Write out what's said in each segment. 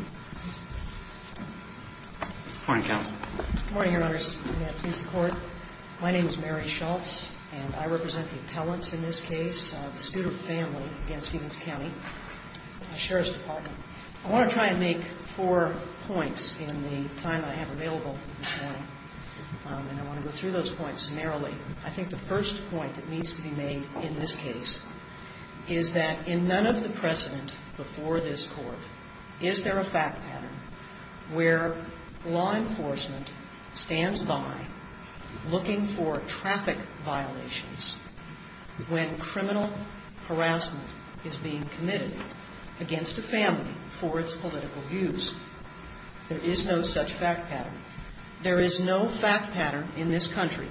I want to try and make four points in the time I have available this morning, and I want to go through those points narrowly. I think the first point that needs to be made in this case is that in none of the precedent before this Court is there a fact pattern where law enforcement stands by looking for traffic violations when criminal harassment is being committed against a family for its political views. There is no such fact pattern. There is no fact pattern in this country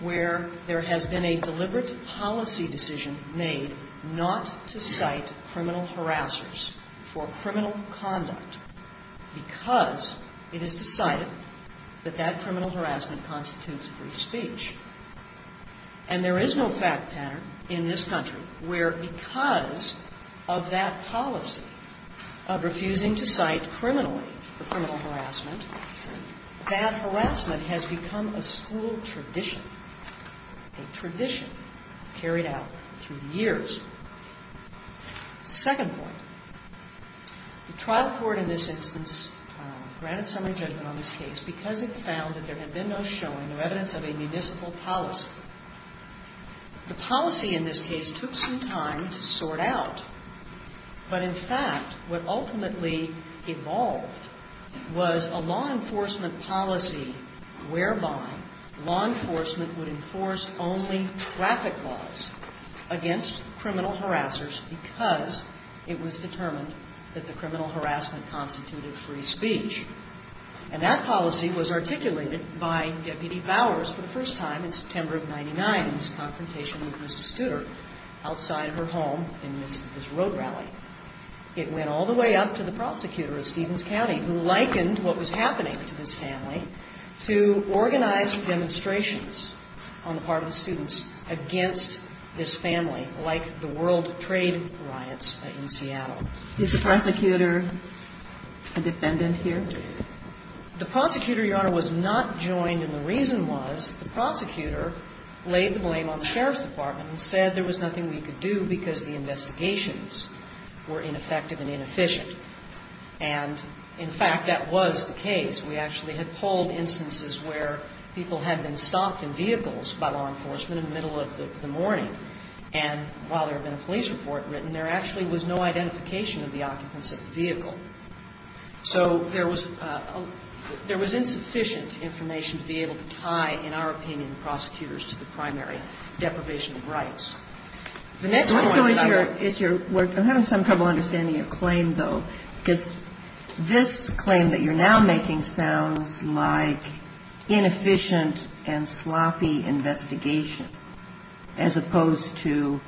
where there has been a deliberate policy decision made not to cite criminal harassers for criminal conduct because it is decided that that criminal harassment constitutes a free speech. And there is no fact pattern in this country where because of that policy of refusing to cite criminally the criminal harassment, that harassment has become a school tradition, a tradition carried out through years. The second point, the trial court in this instance granted summary judgment on this case because it found that there had been no showing or evidence of a municipal policy. The policy in this case took some time to sort out, but in fact what ultimately evolved was a law enforcement policy whereby law enforcement would enforce only traffic laws against criminal harassers because it was determined that the criminal harassment constituted free speech. And that policy was articulated by Deputy Bowers for the first time in September of 1999 in his confrontation with Mrs. Studer outside of her home in the midst of his road rally. It went all the way up to the prosecutor of Stevens County who likened what was happening to this family to organized demonstrations on the part of the students against this family like the world trade riots in Seattle. Is the prosecutor a defendant here? The prosecutor, Your Honor, was not joined and the reason was the prosecutor laid the blame on the And, in fact, that was the case. We actually had polled instances where people had been stopped in vehicles by law enforcement in the middle of the morning, and while there had been a police report written, there actually was no identification of the occupants of the vehicle. So there was insufficient information to be able to tie, in our opinion, prosecutors to the primary deprivation of rights. I'm having some trouble understanding your claim, though, because this claim that you're now making sounds like inefficient and sloppy investigation as opposed to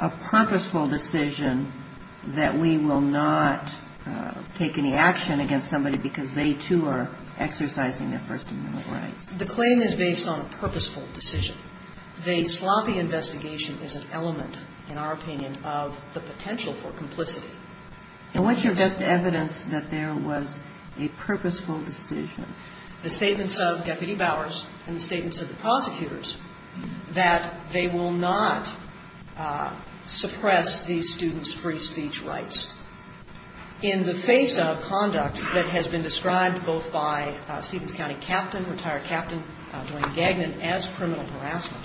a purposeful decision that we will not take any action against somebody because they, too, are exercising their first amendment rights. The claim is based on a purposeful decision. The sloppy investigation is an element, in our opinion, of the potential for complicity. And what's your best evidence that there was a purposeful decision? The statements of Deputy Bowers and the statements of the prosecutors that they will not suppress these students' free speech rights. In the face of conduct that has been described both by Stephens County Captain, retired Captain Dwayne Gagnon, as criminal harassment,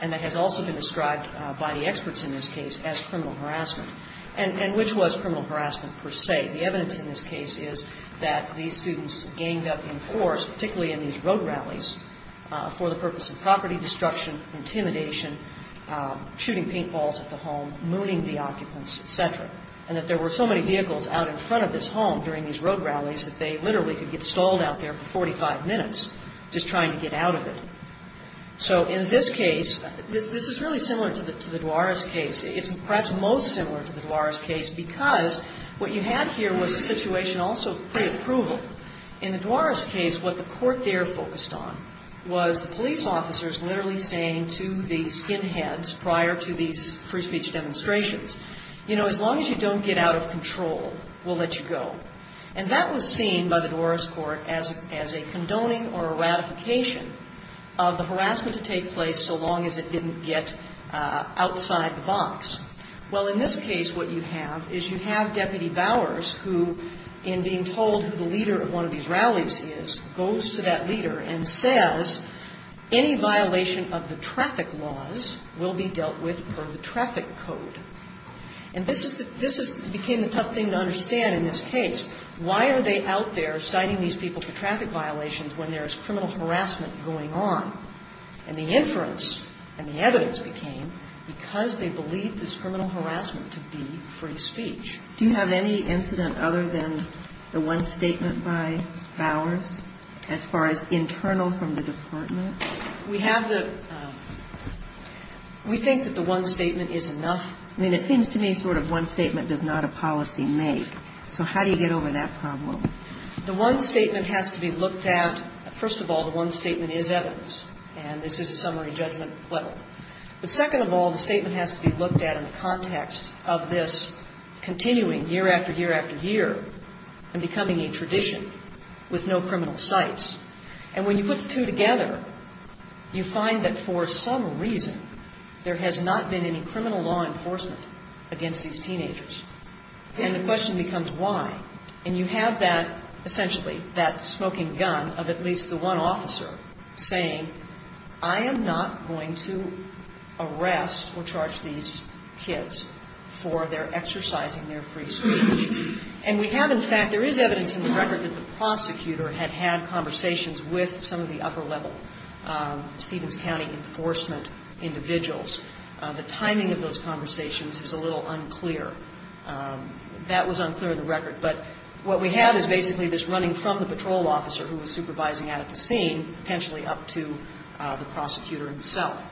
and that has also been described by the experts in this case as criminal harassment, and which was criminal harassment per se, the evidence in this case is that these students ganged up in force, particularly in these road rallies, for the purpose of property destruction, intimidation, shooting paintballs at the home, mooning the occupants, et cetera, and that there were so many vehicles out in front of this home during these road rallies that they literally could get stalled out there for 45 minutes just trying to get out of it. So in this case, this is really similar to the Duares case. It's perhaps most similar to the Duares case because what you had here was a situation also of preapproval. In the Duares case, what the court there focused on was the police officers literally staying to the skinheads prior to these free speech demonstrations. You know, as long as you don't get out of control, we'll let you go. And that was seen by the Duares court as a condoning or a ratification of the harassment to take place so long as it didn't get outside the box. Well, in this case, what you have is you have Deputy Bowers who, in being told who the leader of one of these rallies is, goes to that leader and says, any violation of the traffic laws will be dealt with per the traffic code. And this became the tough thing to understand in this case. Why are they out there citing these people for traffic violations when there is criminal harassment going on? And the inference and the evidence became because they believed this criminal harassment to be free speech. Do you have any incident other than the one statement by Bowers as far as internal from the department? We have the, we think that the one statement is enough. I mean, it seems to me sort of one statement does not a policy make. So how do you get over that problem? The one statement has to be looked at, first of all, the one statement is evidence. And this is a summary judgment level. But second of all, the statement has to be looked at in the context of this continuing year after year after year and becoming a tradition with no criminal sites. And when you put the two together, you find that for some reason there has not been any criminal law enforcement against these teenagers. And the question becomes why. And you have that, essentially, that smoking gun of at least the one officer saying, I am not going to arrest or charge these kids for their exercising their free speech. And we have in fact, there is evidence in the record that the prosecutor had had conversations with some of the upper level Stevens County enforcement individuals. The timing of those conversations is a little unclear. That was unclear in the record. But what we have is basically this running from the patrol officer who was supervising at the scene, potentially up to the prosecutor himself.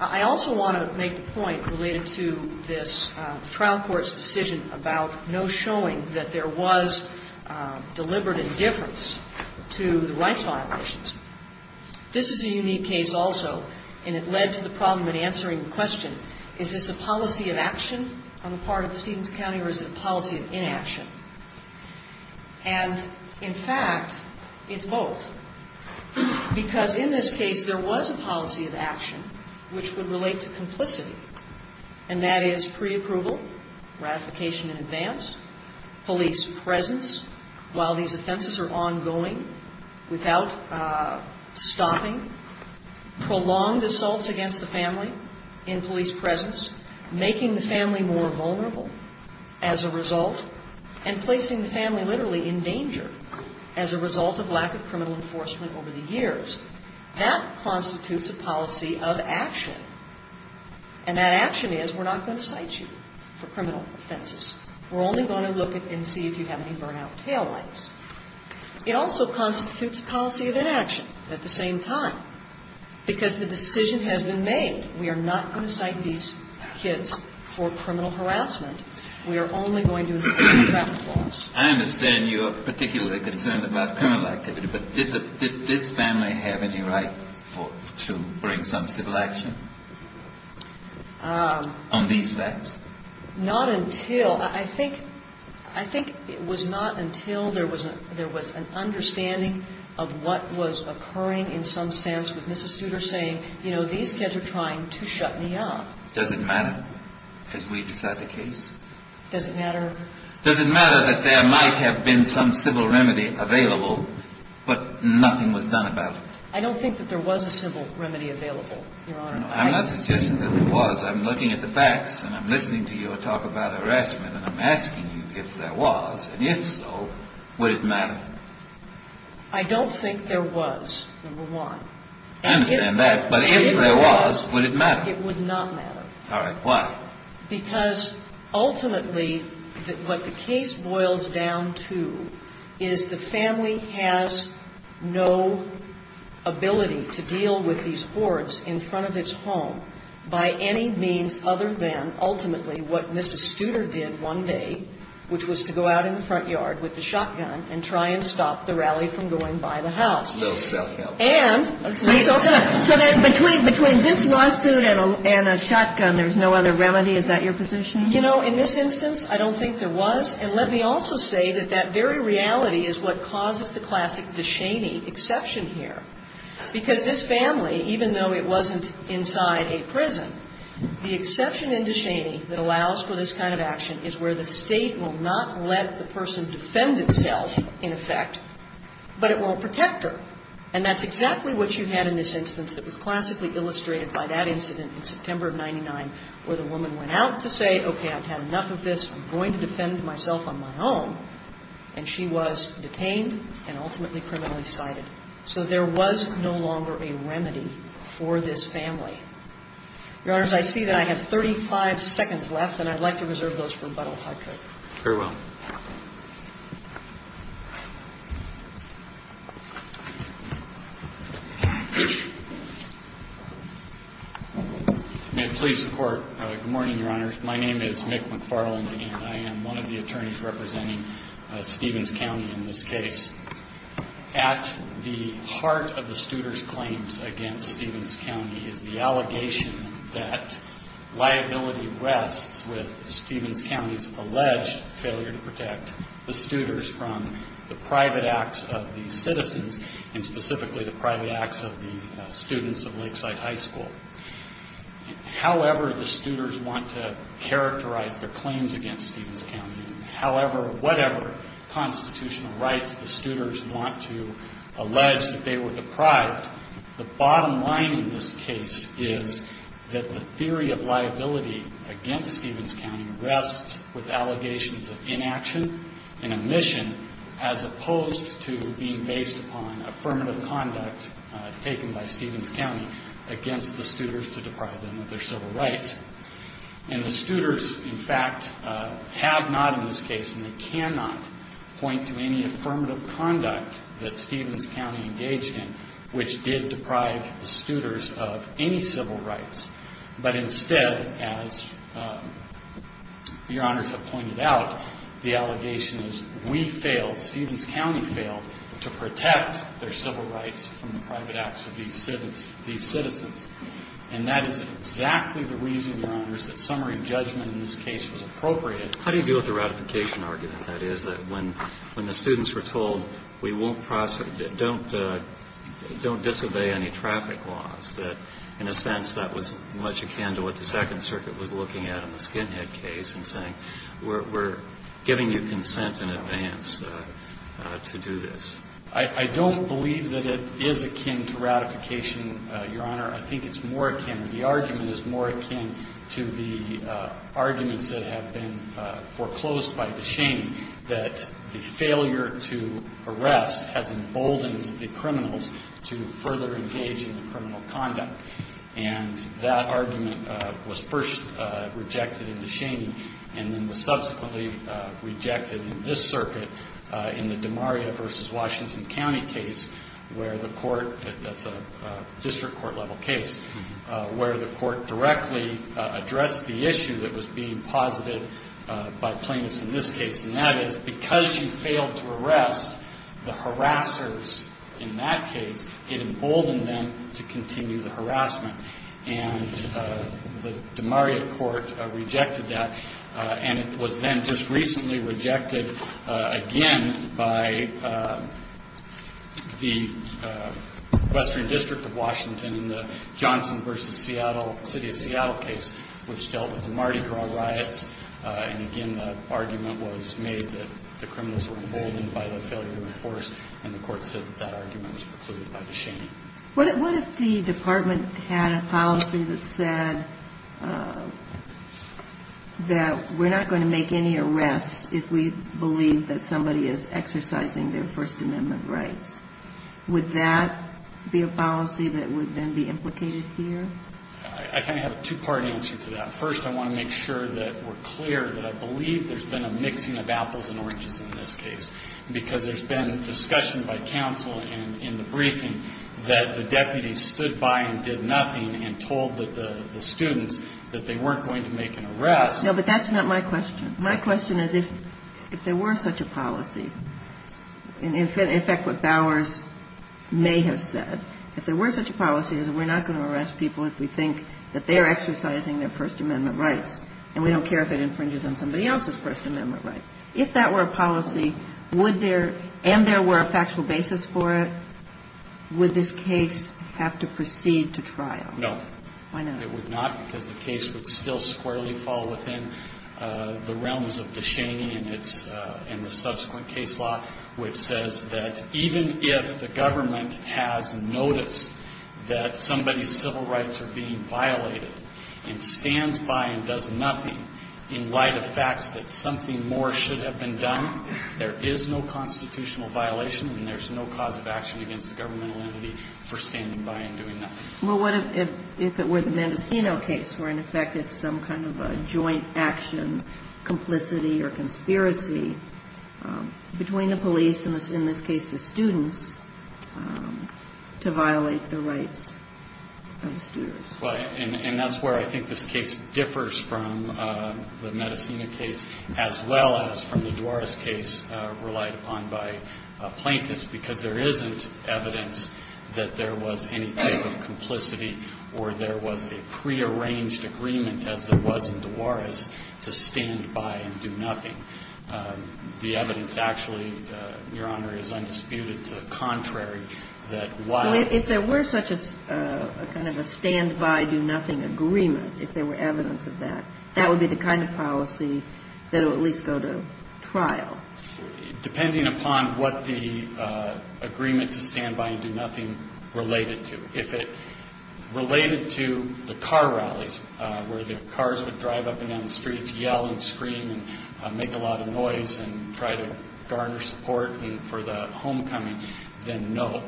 I also want to make the point related to this trial court's decision about no showing that there was deliberate indifference to the rights violations. This is a unique case also, and it led to the problem in answering the question, is this a policy of action on the part of the Stevens County or is it a policy of inaction? And in fact, it's both. Because in this case, there was a policy of action which would relate to complicity, and that is pre-approval, ratification in advance, police presence while these offenses are ongoing, without stopping, prolonged assaults against the family in police presence, making the family more vulnerable as a result, and placing the family literally in danger as a result of lack of criminal enforcement over the years. That constitutes a policy of action. And that action is we're not going to cite you for criminal offenses. We're only going to look and see if you have any burnout taillights. It also constitutes a policy of inaction at the same time, because the decision has been made. We are not going to cite these kids for criminal harassment. We are only going to include traffic laws. I understand you're particularly concerned about criminal activity, but did this family have any right to bring some civil action on these facts? Not until – I think it was not until there was an understanding of what was occurring in some sense with Mrs. Studer saying, you know, these kids are trying to shut me up. Does it matter? Has we decided the case? Does it matter? Does it matter that there might have been some civil remedy available, but nothing was done about it? I don't think that there was a civil remedy available, Your Honor. I'm not suggesting that there was. I'm looking at the facts, and I'm listening to you talk about harassment, and I'm asking you if there was. And if so, would it matter? I don't think there was, number one. I understand that. But if there was, would it matter? It would not matter. All right. Why? Because ultimately, what the case boils down to is the family has no ability to deal with these hoards in front of its home by any means other than ultimately what Mrs. Studer did one day, which was to go out in the front yard with the shotgun and try and stop the rally from going by the house. Little self-help. So then between this lawsuit and a shotgun, there's no other remedy? Is that your position? You know, in this instance, I don't think there was. And let me also say that that very reality is what causes the classic DeShaney exception here, because this family, even though it wasn't inside a prison, the exception in DeShaney that allows for this kind of action is where the State will not let the person defend itself, in effect, but it will protect her. And that's exactly what you had in this instance that was classically illustrated by that incident in September of 99, where the woman went out to say, okay, I've had enough of this. I'm going to defend myself on my own. And she was detained and ultimately criminally cited. So there was no longer a remedy for this family. Your Honors, I see that I have 35 seconds left, and I'd like to reserve those for rebuttal, if I could. Very well. May it please the Court. Good morning, Your Honors. My name is Mick McFarland, and I am one of the attorneys representing Stevens County in this case. At the heart of the Studer's claims against Stevens County is the allegation that liability rests with Stevens County's alleged failure to protect the Studer's from the private acts of the citizens, and specifically the private acts of the students of Lakeside High School. However the Studer's want to characterize their claims against Stevens County, however, whatever constitutional rights the Studer's want to allege that they were liability against Stevens County rests with allegations of inaction and omission as opposed to being based upon affirmative conduct taken by Stevens County against the Studer's to deprive them of their civil rights. And the Studer's, in fact, have not in this case, and they cannot, point to any affirmative conduct that Stevens County engaged in which did deprive the Studer's of any civil rights, but instead, as Your Honors have pointed out, the allegation is we failed, Stevens County failed to protect their civil rights from the private acts of these citizens. And that is exactly the reason, Your Honors, that summary judgment in this case was appropriate. How do you deal with the ratification argument? That is, that when the students were told, we won't prosecute, don't disobey any regulations, in a sense, that was much akin to what the Second Circuit was looking at in the Skinhead case and saying, we're giving you consent in advance to do this. I don't believe that it is akin to ratification, Your Honor. I think it's more akin, the argument is more akin to the arguments that have been foreclosed by the shame that the failure to arrest has emboldened the criminals to further engage in the criminal conduct. And that argument was first rejected in the shaming and then was subsequently rejected in this circuit in the DeMaria versus Washington County case where the court, that's a district court level case, where the court directly addressed the issue that was being posited by plaintiffs in this case. And that is, because you failed to arrest the harassers in that case, it emboldened them to continue the harassment. And the DeMaria court rejected that. And it was then just recently rejected again by the Western District of Washington in the Johnson versus Seattle, City of Seattle case, which dealt with the Mardi Gras case. And the court said that that argument was precluded by the shame. What if the department had a policy that said that we're not going to make any arrests if we believe that somebody is exercising their First Amendment rights? Would that be a policy that would then be implicated here? I kind of have a two-part answer to that. First, I want to make sure that we're clear that I believe there's been a mixing of apples and oranges in this case, because there's been discussion by counsel in the briefing that the deputy stood by and did nothing and told the students that they weren't going to make an arrest. No, but that's not my question. My question is if there were such a policy. In fact, what Bowers may have said, if there were such a policy that we're not going to arrest people if we think that they're exercising their First Amendment rights, and we don't care if it infringes on somebody else's First Amendment rights. If that were a policy, and there were a factual basis for it, would this case have to proceed to trial? No. It would not, because the case would still squarely fall within the realms of De Cheney and the subsequent case law, which says that even if the government has noticed that somebody's civil rights are being violated and stands by and does nothing in light of facts that something more should have been done, there is no constitutional violation and there's no cause of action against the governmental entity for standing by and doing nothing. Well, what if it were the Mendocino case where, in effect, it's some kind of a joint action, complicity or conspiracy between the police and, in this case, the students to violate the rights of the students? Right. And that's where I think this case differs from the Mendocino case as well as from the Duares case relied upon by plaintiffs, because there isn't evidence that there was any type of complaint or that there was any type of complicity or there was a prearranged agreement, as there was in Duares, to stand by and do nothing. The evidence actually, Your Honor, is undisputed to the contrary that while... So if there were such a kind of a stand by, do nothing agreement, if there were evidence of that, that would be the kind of policy that would at least go to trial? Depending upon what the agreement to stand by and do nothing related to. If it related to the car rallies where the cars would drive up and down the streets, yell and scream and make a lot of noise and try to garner support for the homecoming, then no.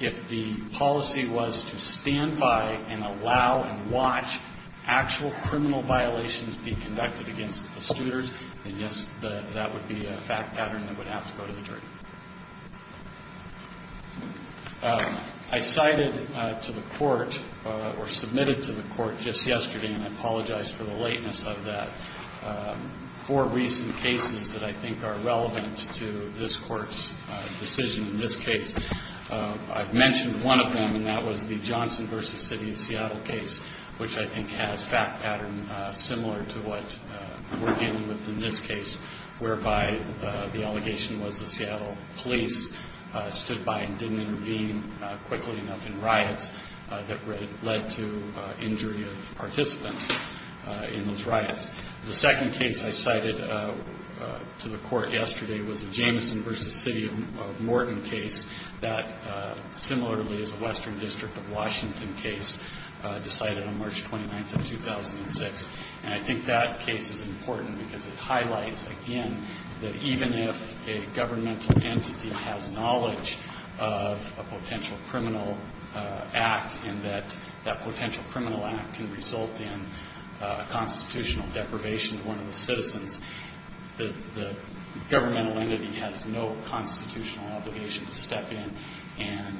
If the policy was to stand by and allow and watch actual criminal violations be conducted against the students, then yes, that would be a fact pattern that would have to go to the jury. I cited to the court or submitted to the court just yesterday, and I apologize for the lateness of that, four recent cases that I think are relevant to this court's decision in this case. I've mentioned one of them, and that was the Johnson v. City of Seattle case, which I think has fact pattern similar to what we're dealing with in this case, whereby the allegation was the Seattle case. The Seattle police stood by and didn't intervene quickly enough in riots that led to injury of participants in those riots. The second case I cited to the court yesterday was the Jameson v. City of Morton case that similarly is a western district of Washington case decided on March 29th of 2006. And I think that case is important because it highlights again that even if a governmental entity or a federal agency decides to intervene in a case, it's not going to do anything about it. If a governmental entity has knowledge of a potential criminal act and that that potential criminal act can result in a constitutional deprivation to one of the citizens, the governmental entity has no constitutional obligation to step in and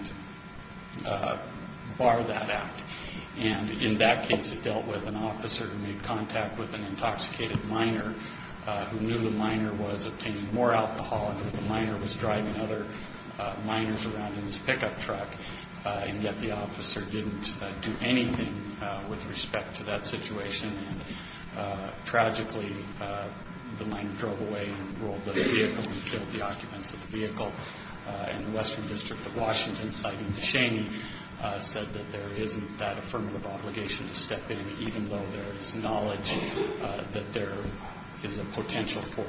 bar that act. And in that case, it dealt with an officer who made contact with an intoxicated minor who knew the minor was obtaining more alcohol and that the minor was drunk. And he was driving other minors around in his pickup truck, and yet the officer didn't do anything with respect to that situation. And tragically, the minor drove away and rolled out of the vehicle and killed the occupants of the vehicle. And the western district of Washington, citing DeShaney, said that there isn't that affirmative obligation to step in, even though there is knowledge that there is a potential for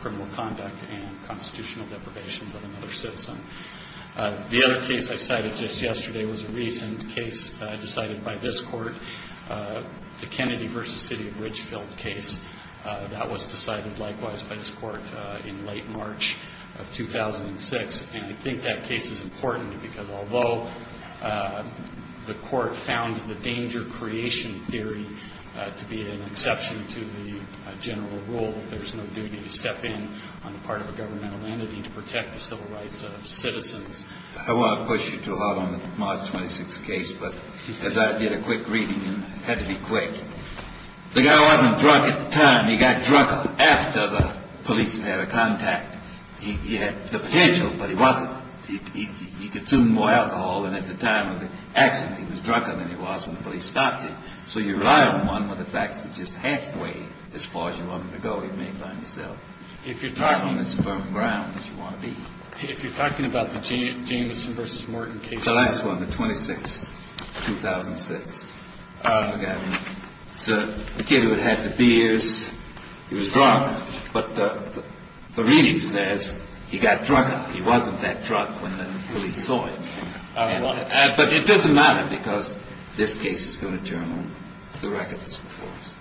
criminal conduct and constitutional deprivation. The other case I cited just yesterday was a recent case decided by this Court, the Kennedy v. City of Ridgefield case. That was decided likewise by this Court in late March of 2006. And I think that case is important because although the Court found the danger-creation theory to be an exception to the general rule that there's no duty to step in on the part of a governmental entity to protect the citizen, civil rights of citizens. The guy wasn't drunk at the time. He got drunk after the police had a contact. He had the potential, but he wasn't. He consumed more alcohol, and at the time of the accident, he was drunker than he was when the police stopped him. So you rely on one of the facts that just halfway as far as you want him to go, he may find himself not on as firm a ground as you want to be. If you're talking about the Jamison v. Morton case. The last one, the 26th, 2006. The kid who had the beers, he was drunk, but the reading says he got drunk. He wasn't that drunk when the police saw him. But it doesn't matter because this case is going to determine the record that's before us.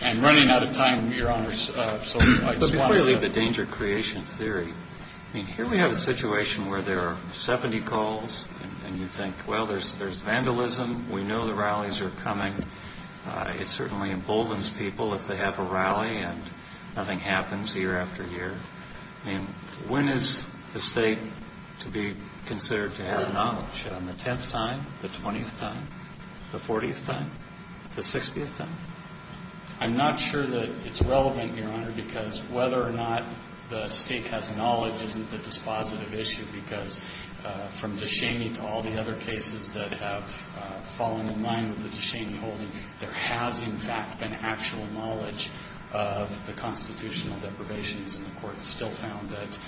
And running out of time, Your Honor, so I just want to... But before you leave the danger-creation theory, I mean, here we have a situation where there are 70 calls, and you think, well, there's vandalism. We know the rallies are coming. It certainly emboldens people if they have a rally and nothing happens year after year. I mean, when is the state to be considered to have knowledge? On the 10th time, the 20th time, the 40th time, the 60th time? I'm not sure that it's relevant, Your Honor, because whether or not the state has knowledge isn't the dispositive issue, because from DeCheney to all the other cases that have fallen in line with the DeCheney holding, there has, in fact, been actual knowledge of the constitutional deprivations, and the Court still found that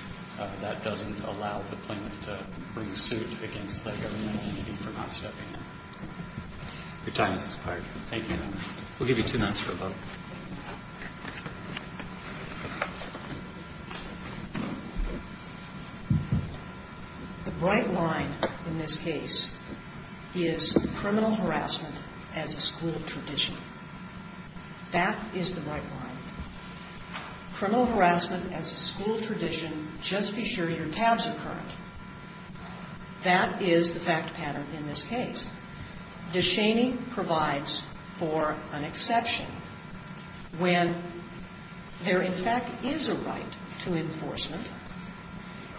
that doesn't allow the plaintiff to bring suit against the government committee for not stepping in. Your time has expired. Thank you, Your Honor. We'll give you two minutes for a vote. The bright line in this case is criminal harassment as a school tradition. That is the bright line. Criminal harassment as a school tradition, just be sure your tabs are current. That is the fact pattern in this case. DeCheney provides for an exception when there, in fact, is a right to enforcement,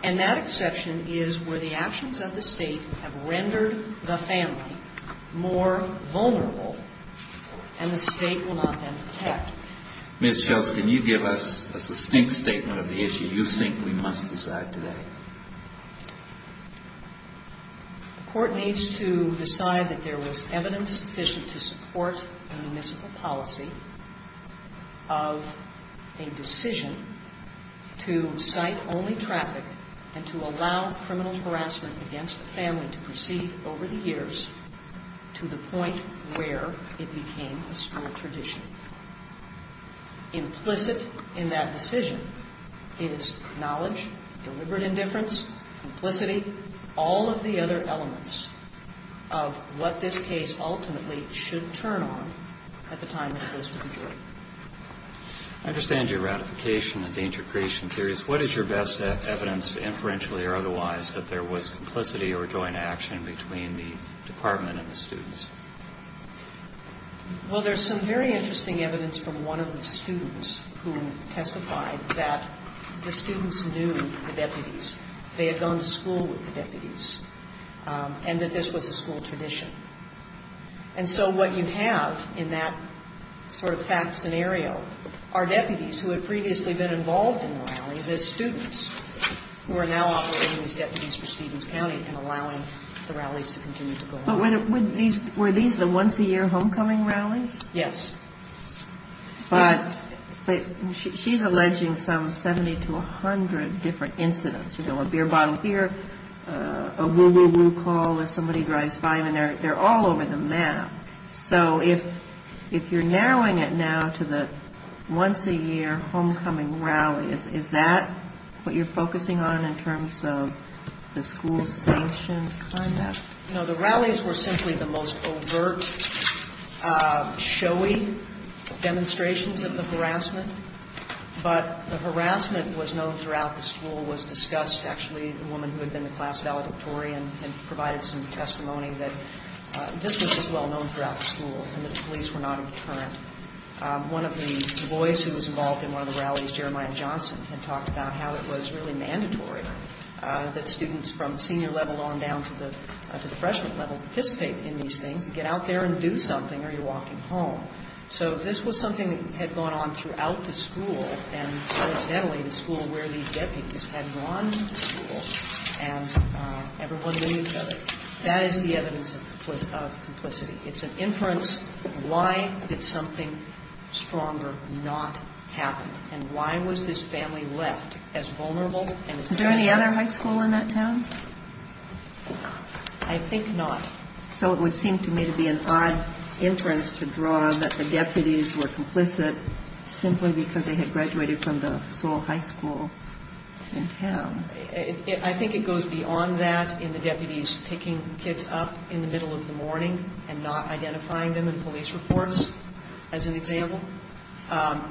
and that exception is where the actions of the state have rendered the family more vulnerable, and the state will not then protect. Ms. Schultz, can you give us a succinct statement of the issue you think we must decide today? The Court needs to decide that there was evidence sufficient to support a municipal policy of a decision to cite only traffic and to allow criminal harassment against the family to proceed over the years to the point where it became a school tradition. The only thing implicit in that decision is knowledge, deliberate indifference, complicity, all of the other elements of what this case ultimately should turn on at the time it goes to the jury. I understand your ratification and danger creation theories. What is your best evidence, inferentially or otherwise, that there was complicity or joint action between the department and the students? Well, we have interesting evidence from one of the students who testified that the students knew the deputies. They had gone to school with the deputies, and that this was a school tradition. And so what you have in that sort of fact scenario are deputies who had previously been involved in the rallies as students who are now operating as deputies for Stevens County and allowing the rallies to continue to go on. But were these the once-a-year homecoming rallies? Yes. But she's alleging some 70 to 100 different incidents, you know, a beer bottle here, a woo-woo-woo call as somebody drives by, and they're all over the map. So if you're narrowing it now to the once-a-year homecoming rallies, is that what you're focusing on in terms of the school sanctioned conduct? You know, the rallies were simply the most overt, showy demonstrations of harassment. But the harassment was known throughout the school, was discussed, actually. The woman who had been the class valedictorian had provided some testimony that this was as well known throughout the school and that the police were not a deterrent. One of the boys who was involved in one of the rallies, Jeremiah Johnson, had talked about how it was really mandatory that students from senior level on down to the junior level, up to the freshman level, participate in these things, get out there and do something or you're walking home. So this was something that had gone on throughout the school, and coincidentally, the school where these deputies had gone to school and everyone knew each other. That is the evidence of complicity. It's an inference. Why did something stronger not happen? And why was this family left as vulnerable and as pressure? Was there another high school in that town? I think not. So it would seem to me to be an odd inference to draw that the deputies were complicit simply because they had graduated from the sole high school in town. I think it goes beyond that in the deputies picking kids up in the middle of the morning and not identifying them in police reports, as an example.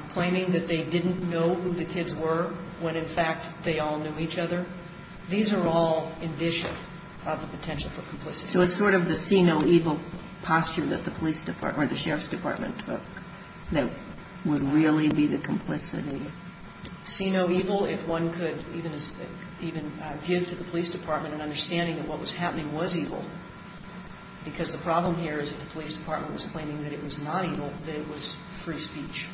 Claiming that they didn't know who the kids were when, in fact, they all knew each other. These are all indicia of the potential for complicity. So it's sort of the see-no-evil posture that the police department or the sheriff's department took that would really be the complicity. See-no-evil, if one could even give to the police department an understanding that what was happening was evil, because the problem here is that the police department was claiming that it was not evil, that it was free speech.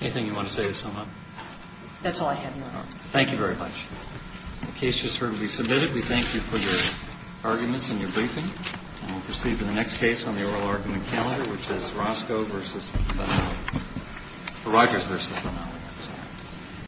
Anything you want to say to sum up? That's all I have, Your Honor. Thank you very much. The case should certainly be submitted. We thank you for your arguments and your briefing, and we'll proceed to the next case on the oral argument calendar, which is Rogers v. Romali.